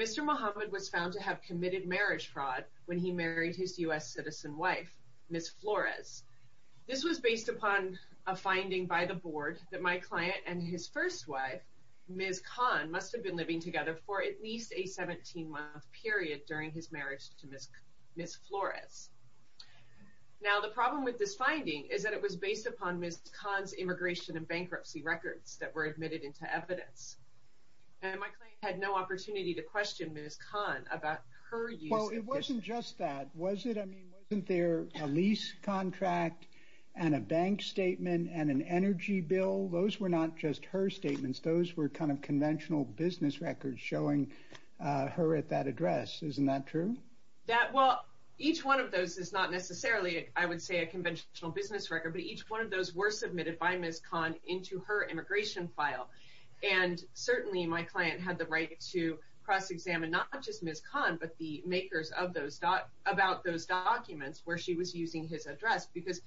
Mr. Mohammed was found to have committed marriage fraud when he married his U.S. citizen wife, Ms. Flores. This was based upon a finding by the board that my client and his first wife, Ms. Kahn, must have been living together for at least a 17-month period during his marriage to Ms. Flores. Now, the problem with this finding is that it was based upon Ms. Kahn's immigration and bankruptcy records that were admitted into evidence. And my client had no opportunity to question Ms. Kahn about her use of this... It wasn't just that, was it? I mean, wasn't there a lease contract and a bank statement and an energy bill? Those were not just her statements, those were kind of conventional business records showing her at that address. Isn't that true? Well, each one of those is not necessarily, I would say, a conventional business record, but each one of those were submitted by Ms. Kahn into her immigration file. And certainly my client had the right to cross-examine not just Ms. Kahn, but the makers about those documents where she was using his address, because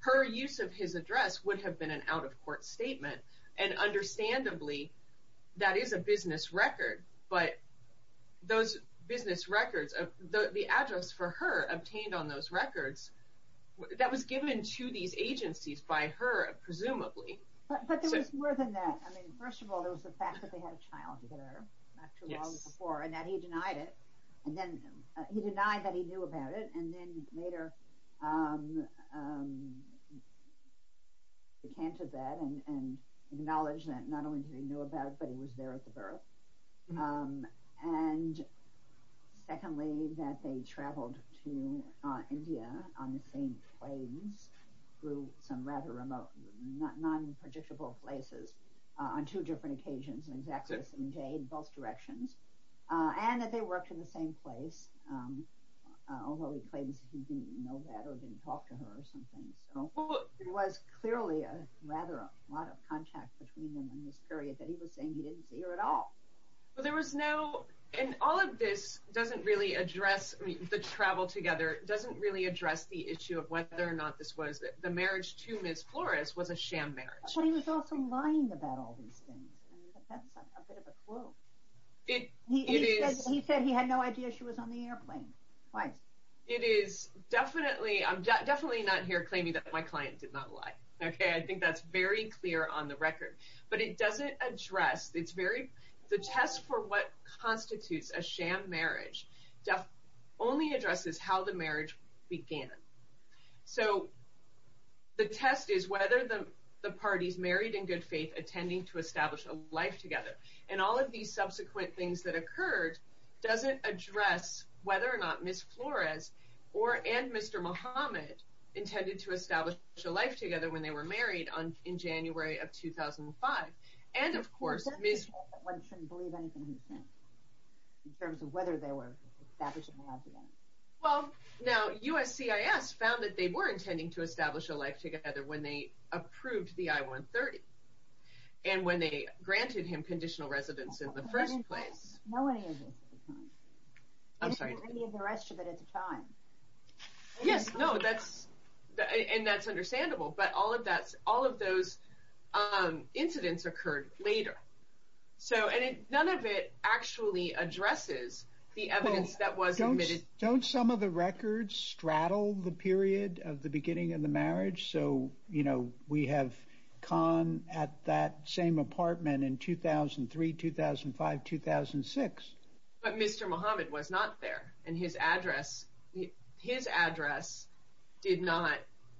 her use of his address would have been an out-of-court statement. And understandably, that is a business record, but those business records, the address for her obtained on those records, that was given to these agencies by her, presumably. But there was more than that. I mean, first of all, there was the fact that they had a child together, not too long before, and that he denied it. He denied that he knew about it, and then later he came to that and acknowledged that not only did he know about it, but he was there at the birth. And secondly, that they traveled to India on the same planes through some rather remote, non-predictable places on two different occasions, an exact same day in both directions, and that they worked in the same place, although he claims he didn't know that or didn't talk to her or something. So, it was clearly rather a lot of contact between them in this period that he was saying he didn't see her at all. But there was no, and all of this doesn't really address the travel together, doesn't really address the issue of whether or not this was the marriage to Ms. Flores was a sham marriage. But he was also lying about all these things. That's a bit of a clue. It is. He said he had no idea she was on the airplane. It is definitely, I'm definitely not here claiming that my client did not lie. Okay, I think that's very clear on the record. But it doesn't address, it's very, the test for what constitutes a sham marriage only addresses how the marriage began. So, the test is whether the parties married in good faith, attending to establish a life together. And all of these subsequent things that occurred doesn't address whether or not Ms. Flores and Mr. Muhammad intended to establish a life together when they were married in January of 2005. And of course, Ms. shouldn't believe anything he says in terms of whether they were establishing a life together. Well, now USCIS found that they were intending to establish a life together when they approved the I-130. And when they granted him conditional residence in the first place. I didn't know any of this at the time. I'm sorry. I didn't know any of the rest of it at the time. Yes, no, that's, and that's understandable. But all of that, all of those incidents occurred later. So, and none of it actually addresses the evidence that was admitted. Don't some of the records straddle the period of the beginning of the marriage? So, you know, we have Khan at that same apartment in 2003, 2005, 2006. But Mr. Muhammad was not there. And his address, his address did not,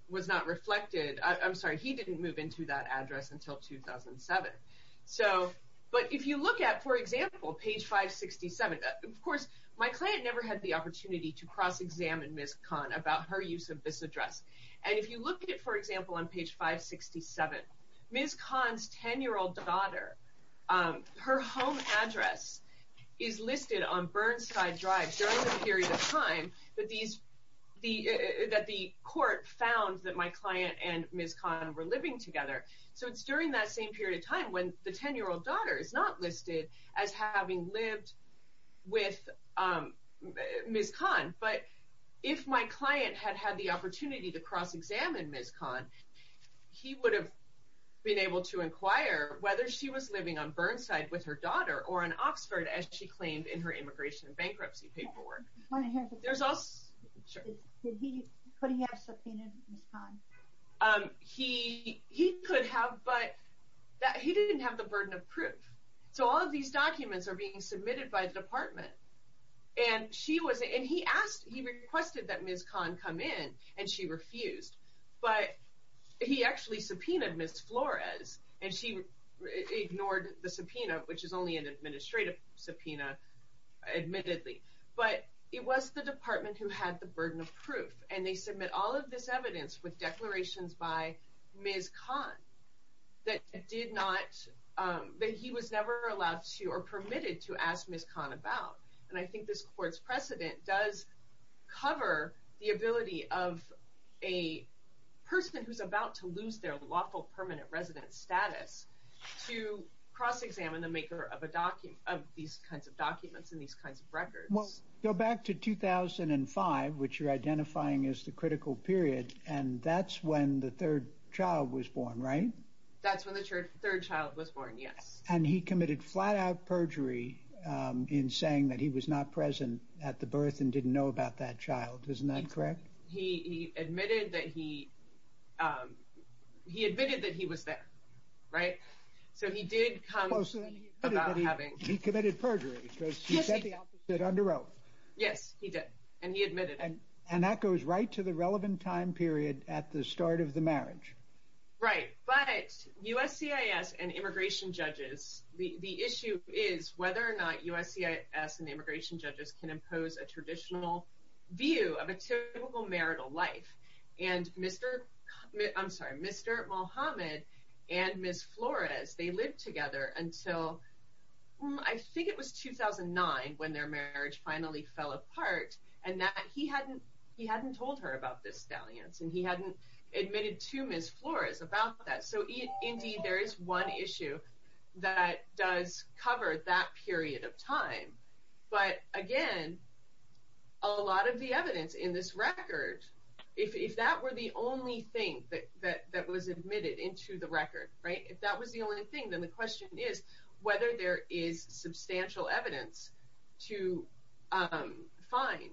was not reflected, I'm sorry, he didn't move into that address until 2007. So, but if you look at, for example, page 567, of course, my client never had the opportunity to cross-examine Ms. Khan about her use of this address. And if you look at, for example, on page 567, Ms. Khan's 10-year-old daughter, her home address is listed on Burnside Drive during the period of time that these, that the court found that my client and Ms. Khan were living together. So it's during that same period of time when the 10-year-old daughter is not listed as having lived with Ms. Khan. But if my client had had the opportunity to cross-examine Ms. Khan, he would have been able to inquire whether she was living on Burnside with her daughter or in Oxford, as she claimed in her immigration and bankruptcy paperwork. There's also... Could he have subpoenaed Ms. Khan? He could have, but he didn't have the burden of proof. So all of these documents are being submitted by the department. And she was... And he asked, he requested that Ms. Khan come in, and she refused. But he actually subpoenaed Ms. Flores, and she ignored the subpoena, which is only an administrative subpoena, admittedly. But it was the department who had the burden of proof, and they submit all of this evidence with declarations by Ms. Khan that he was never allowed to or permitted to ask Ms. Khan about. And I think this court's precedent does cover the ability of a person who's about to lose their lawful permanent residence status to cross-examine the maker of these kinds of documents and these kinds of records. Well, go back to 2005, which you're identifying as the critical period, and that's when the third child was born, right? That's when the third child was born, yes. And he committed flat-out perjury in saying that he was not present at the birth and didn't know about that child. Isn't that correct? He admitted that he was there, right? So he did come about having... Yes, he did, and he admitted it. And that goes right to the relevant time period at the start of the marriage. Right, but USCIS and immigration judges, the issue is whether or not USCIS and immigration judges can impose a traditional view of a typical marital life. And Mr. Mohammed and Ms. Flores, they lived together until, I think it was 2009, when their marriage finally fell apart. And he hadn't told her about this dalliance, and he hadn't admitted to Ms. Flores about that. So indeed, there is one issue that does cover that period of time. But again, a lot of the evidence in this record, if that were the only thing that was admitted into the record, right? If that was the only thing, then the question is whether there is substantial evidence to find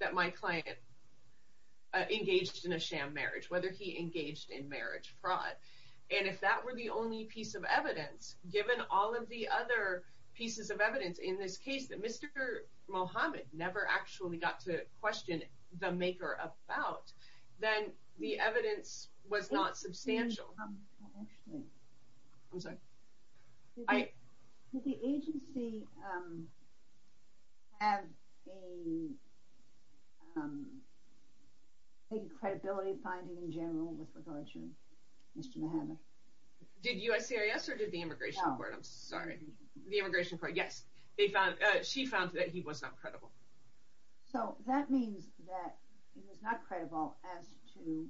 that my client engaged in a sham marriage, whether he engaged in marriage fraud. And if that were the only piece of evidence, given all of the other pieces of evidence in this case that Mr. Mohammed never actually got to question the maker about, then the evidence was not substantial. Did the agency have a credibility finding in general with regard to Mr. Mohammed? Did USCIS or did the immigration court? I'm sorry. The immigration court, yes. She found that he was not credible. So that means that he was not credible as to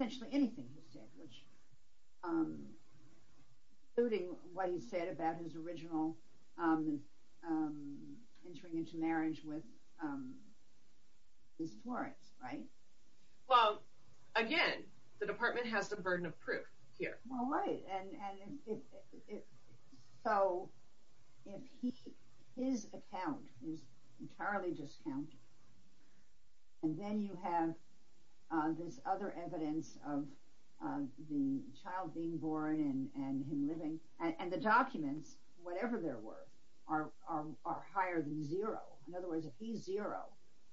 essentially anything he said, including what he said about his original entering into marriage with Ms. Flores, right? Well, again, the department has the burden of proof here. Well, right. So if his account is entirely discounted, and then you have this other evidence of the child being born and him living, and the documents, whatever they're worth, are higher than zero. In other words, if he's zero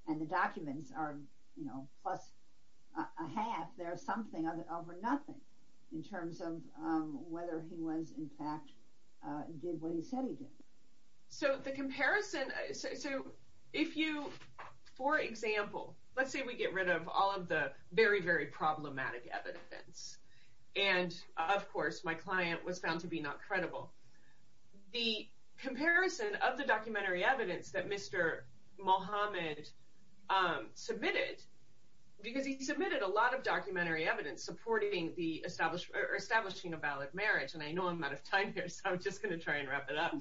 and the documents are, you know, plus a half, there's something over nothing in terms of whether he was, in fact, did what he said he did. So the comparison, so if you, for example, let's say we get rid of all of the very, very problematic evidence. And, of course, my client was found to be not credible. The comparison of the documentary evidence that Mr. Mohammed submitted, because he submitted a lot of documentary evidence supporting establishing a valid marriage, and I know I'm out of time here, so I'm just going to try and wrap it up.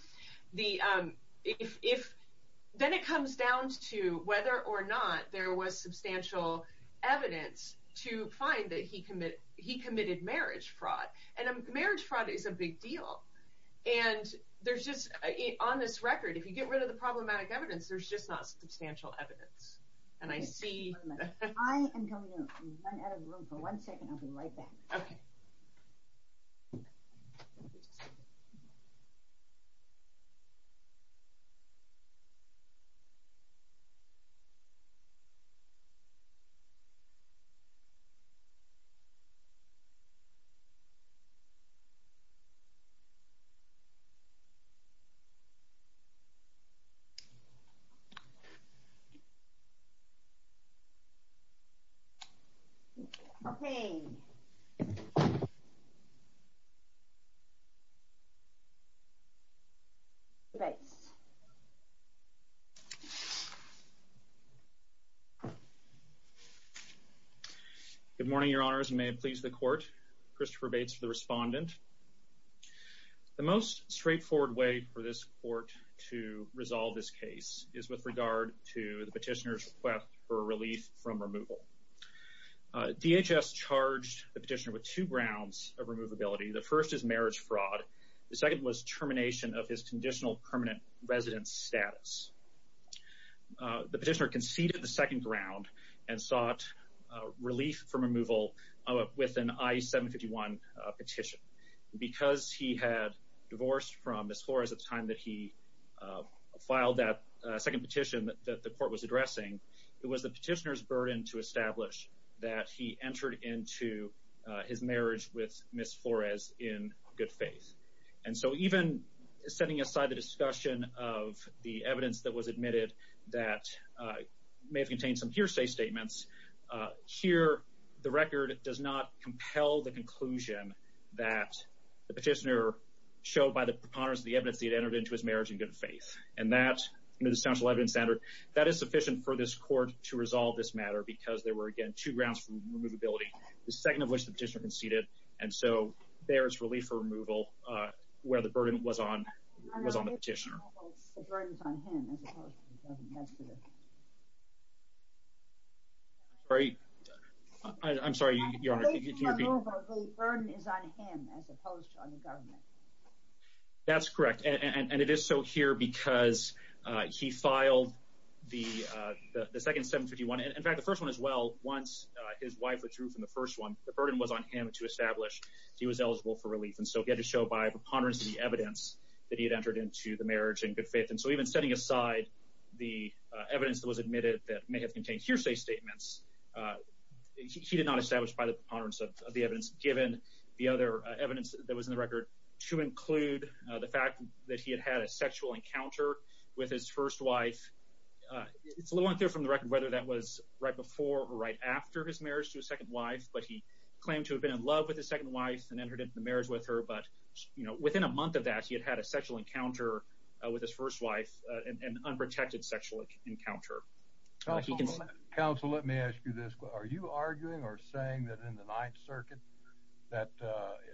Then it comes down to whether or not there was substantial evidence to find that he committed marriage fraud. And marriage fraud is a big deal. And there's just, on this record, if you get rid of the problematic evidence, there's just not substantial evidence. And I see... I am going to run out of room for one second. I'll be right back. Okay. Okay. Thanks. Good morning, Your Honors, and may it please the Court. Christopher Bates for the Respondent. The most straightforward way for this Court to resolve this case is with regard to the petitioner's request for relief from removal. DHS charged the petitioner with two grounds of removability. The first is marriage fraud. The second was termination of his conditional permanent residence status. The petitioner conceded the second ground and sought relief from removal with an I-751 petition. Because he had divorced from Ms. Flores at the time that he filed that second petition that the Court was addressing, it was the petitioner's burden to establish that he entered into his marriage with Ms. Flores in good faith. And so even setting aside the discussion of the evidence that was admitted that may have contained some hearsay statements, here the record does not compel the conclusion that the petitioner showed by the preponderance of the evidence that he had entered into his marriage in good faith. And that is a substantial evidence standard. That is sufficient for this Court to resolve this matter because there were, again, two grounds for removability, the second of which the petitioner conceded. And so there is relief for removal where the burden was on the petitioner. The burden is on him as opposed to the government. I'm sorry. I'm sorry, Your Honor. The burden is on him as opposed to on the government. That's correct. And it is so here because he filed the second 751. In fact, the first one as well, once his wife withdrew from the first one, the burden was on him to establish he was eligible for relief. And so he had to show by preponderance of the evidence that he had entered into the marriage in good faith. And so even setting aside the evidence that was admitted that may have contained hearsay statements, he did not establish by the preponderance of the evidence given the other evidence that was in the record to include the fact that he had had a sexual encounter with his first wife. It's a little unclear from the record whether that was right before or right after his marriage to his second wife, but he claimed to have been in love with his second wife and entered into the marriage with her. But, you know, within a month of that, he had had a sexual encounter with his first wife, an unprotected sexual encounter. Counsel, let me ask you this. Are you arguing or saying that in the Ninth Circuit that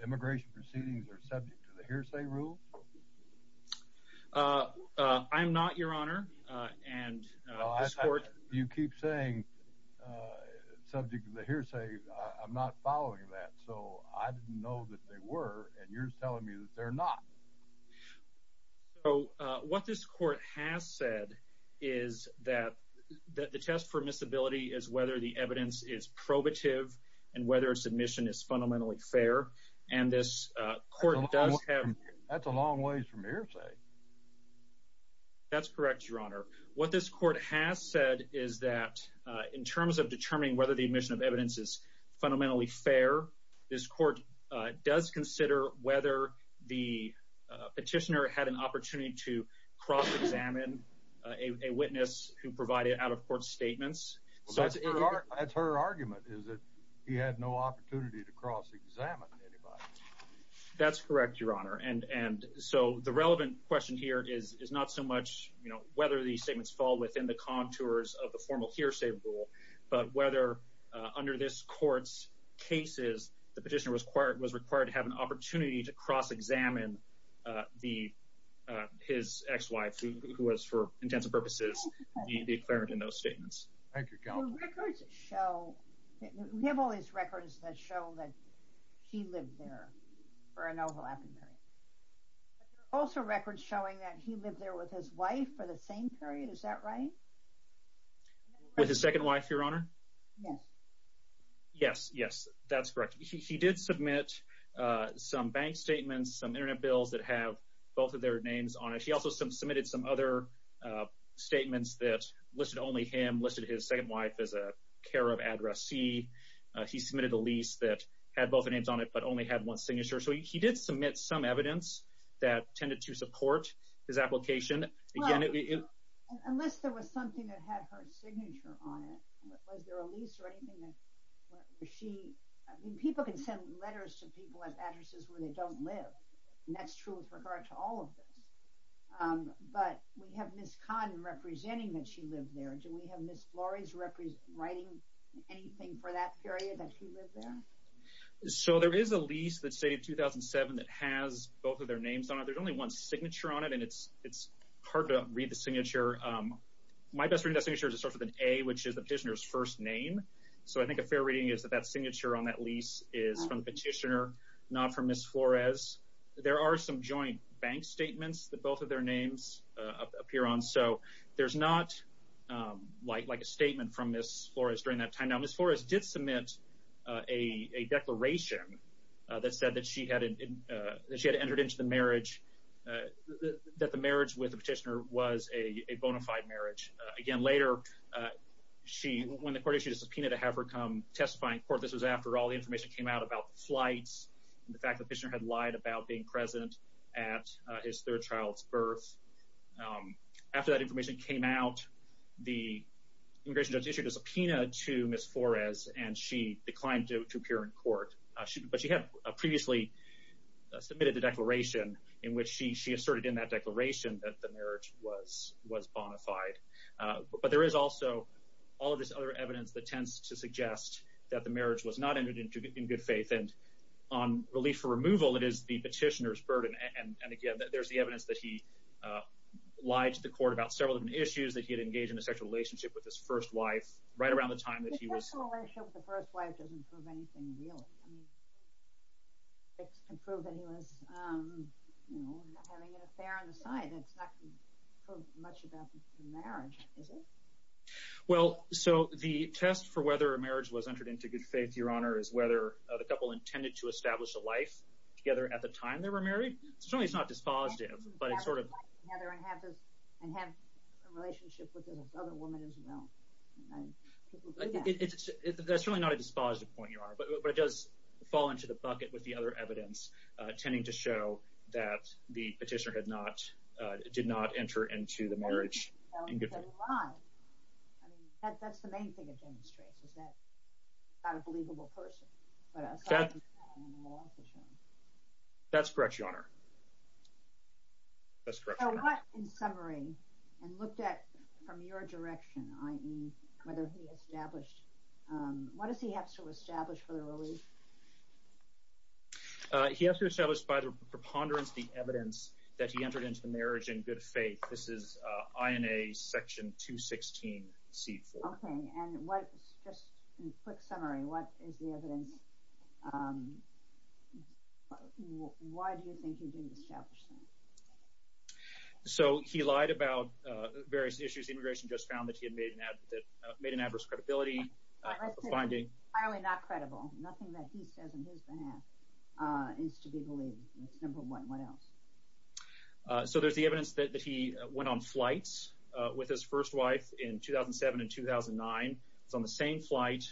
immigration proceedings are subject to the hearsay rule? I'm not, Your Honor. You keep saying subject to the hearsay. I'm not following that. So I didn't know that they were, and you're telling me that they're not. So what this court has said is that the test for miscibility is whether the evidence is probative and whether a submission is fundamentally fair. And this court does have— That's a long ways from hearsay. That's correct, Your Honor. What this court has said is that in terms of determining whether the admission of evidence is fundamentally fair, this court does consider whether the petitioner had an opportunity to cross-examine a witness who provided out-of-court statements. That's her argument, is that he had no opportunity to cross-examine anybody. That's correct, Your Honor. And so the relevant question here is not so much, you know, whether these statements fall within the contours of the formal hearsay rule, but whether under this court's cases the petitioner was required to have an opportunity to cross-examine his ex-wife, who was, for intensive purposes, the declarant in those statements. Thank you, Counsel. So records show—we have all these records that show that he lived there for an overlapping period. But there are also records showing that he lived there with his wife for the same period. Is that right? With his second wife, Your Honor? Yes. Yes, yes, that's correct. He did submit some bank statements, some Internet bills that have both of their names on it. He also submitted some other statements that listed only him, listed his second wife as a care of addressee. He submitted a lease that had both their names on it but only had one signature. So he did submit some evidence that tended to support his application. Well, unless there was something that had her signature on it, was there a lease or anything that she— I mean, people can send letters to people at addresses where they don't live, and that's true with regard to all of this. But we have Ms. Kahn representing that she lived there. Do we have Ms. Flores writing anything for that period that she lived there? So there is a lease that's dated 2007 that has both of their names on it. There's only one signature on it, and it's hard to read the signature. My best reading of that signature is it starts with an A, which is the petitioner's first name. So I think a fair reading is that that signature on that lease is from the petitioner, not from Ms. Flores. There are some joint bank statements that both of their names appear on. So there's not, like, a statement from Ms. Flores during that time. Now, Ms. Flores did submit a declaration that said that she had entered into the marriage— that the marriage with the petitioner was a bona fide marriage. Again, later, when the court issued a subpoena to have her come testify in court, this was after all the information came out about the flights and the fact that the petitioner had lied about being present at his third child's birth. After that information came out, the immigration judge issued a subpoena to Ms. Flores, and she declined to appear in court. But she had previously submitted the declaration in which she asserted in that declaration that the marriage was bona fide. But there is also all of this other evidence that tends to suggest that the marriage was not entered into in good faith. And on relief for removal, it is the petitioner's burden. And again, there's the evidence that he lied to the court about several different issues, that he had engaged in a sexual relationship with his first wife right around the time that he was— I mean, it can prove that he was having an affair on the side. That's not going to prove much about the marriage, is it? Well, so the test for whether a marriage was entered into in good faith, Your Honor, is whether the couple intended to establish a life together at the time they were married. Certainly it's not dispositive, but it sort of— And have a relationship with this other woman as well. That's really not a dispositive point, Your Honor, but it does fall into the bucket with the other evidence tending to show that the petitioner did not enter into the marriage in good faith. I mean, that's the main thing it demonstrates, is that he's not a believable person. That's correct, Your Honor. So what, in summary, and looked at from your direction, i.e., whether he established— what does he have to establish for the release? He has to establish by the preponderance the evidence that he entered into the marriage in good faith. This is INA Section 216C4. Okay, and what—just in quick summary, what is the evidence— why do you think he didn't establish that? So he lied about various issues. Immigration just found that he had made an adverse credibility finding. Not credible. Nothing that he says on his behalf is to be believed. That's number one. What else? So there's the evidence that he went on flights with his first wife in 2007 and 2009. It's on the same flight.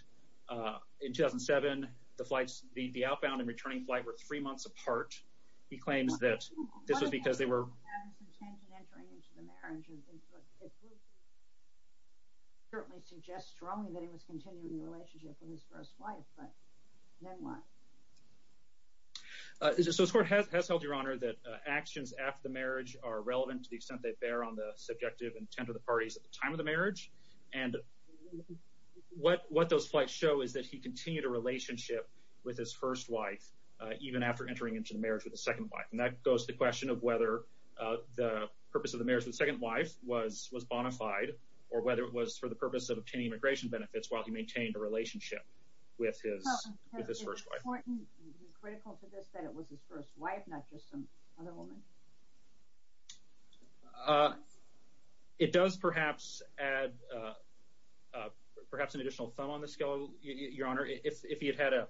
And in 2007, the outbound and returning flight were three months apart. He claims that this was because they were— So this Court has held, Your Honor, that actions after the marriage are relevant to the extent they bear on the subjective intent of the parties at the time of the marriage. And what those flights show is that he continued a relationship with his first wife even after entering into the marriage with his second wife. And that goes to the question of whether the purpose of the marriage with his second wife was bona fide or whether it was for the purpose of obtaining immigration benefits while he maintained a relationship with his first wife. Is it critical to this that it was his first wife, not just some other woman? It does perhaps add perhaps an additional thumb on the scale, Your Honor. If he had had a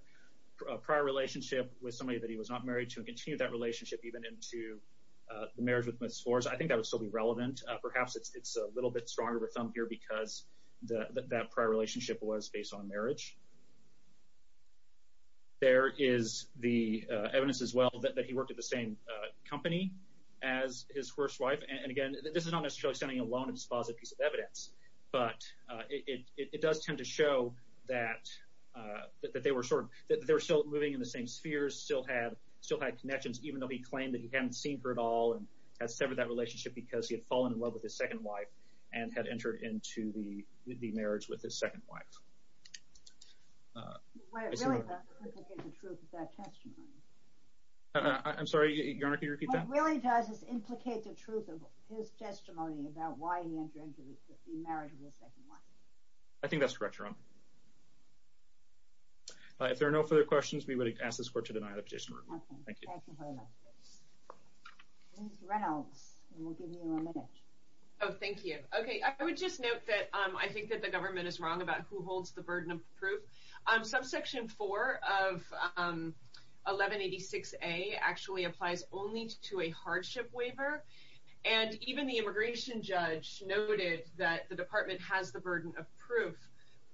prior relationship with somebody that he was not married to and continued that relationship even into the marriage with Ms. Forres, I think that would still be relevant. Perhaps it's a little bit stronger of a thumb here because that prior relationship was based on marriage. There is the evidence as well that he worked at the same company as his first wife. And again, this is not necessarily standing alone in this faucet piece of evidence, but it does tend to show that they were sort of still moving in the same spheres, still had connections even though he claimed that he hadn't seen her at all and had severed that relationship because he had fallen in love with his second wife and had entered into the marriage with his second wife. But it really does implicate the truth of that testimony. I'm sorry, Your Honor, can you repeat that? What it really does is implicate the truth of his testimony about why he entered into the marriage with his second wife. I think that's correct, Your Honor. If there are no further questions, we would ask this Court to deny the petition. Thank you. Ms. Reynolds, we'll give you a minute. Oh, thank you. Okay, I would just note that I think that the government is wrong about who holds the burden of proof. Subsection 4 of 1186A actually applies only to a hardship waiver, and even the immigration judge noted that the Department has the burden of proof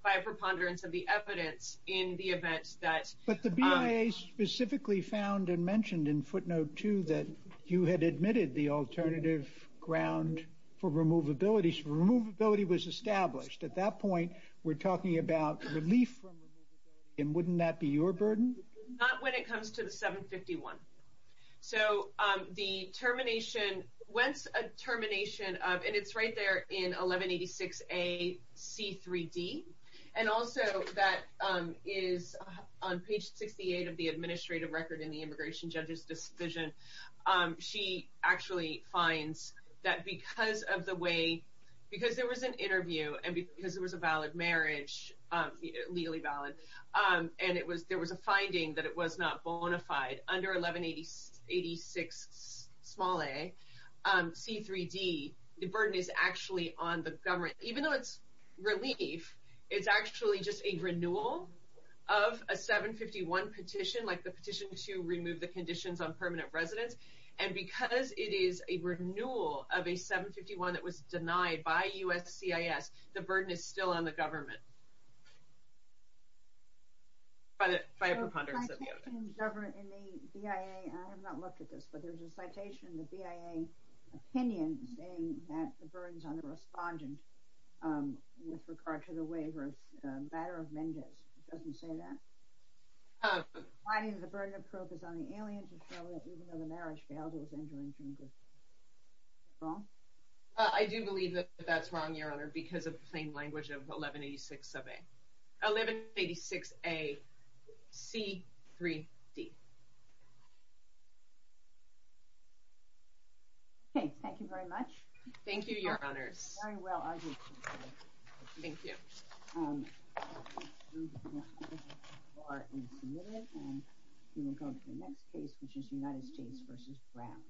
by preponderance of the evidence in the event that... But the BIA specifically found and mentioned in footnote 2 that you had admitted the alternative ground for removability. So removability was established. At that point, we're talking about relief from removability, and wouldn't that be your burden? Not when it comes to the 751. So the termination, once a termination of, and it's right there in 1186A C3D, and also that is on page 68 of the administrative record in the immigration judge's decision, she actually finds that because there was an interview and because there was a valid marriage, legally valid, and there was a finding that it was not bona fide, under 1186 small a C3D, the burden is actually on the government. Even though it's relief, it's actually just a renewal of a 751 petition, like the petition to remove the conditions on permanent residence, and because it is a renewal of a 751 that was denied by USCIS, the burden is still on the government. By a preponderance of the evidence. In the BIA, and I have not looked at this, but there's a citation in the BIA opinion saying that the burden's on the respondent with regard to the waiver of the matter of Mendez. It doesn't say that? The finding of the burden of proof is on the alien, even though the marriage valid was injuring him. Is that wrong? I do believe that that's wrong, Your Honor, because of the plain language of 1186A C3D. Okay, thank you very much. Thank you, Your Honors. Very well argued. Thank you. The case is submitted, and we will go to the next case, which is United States v. Brown.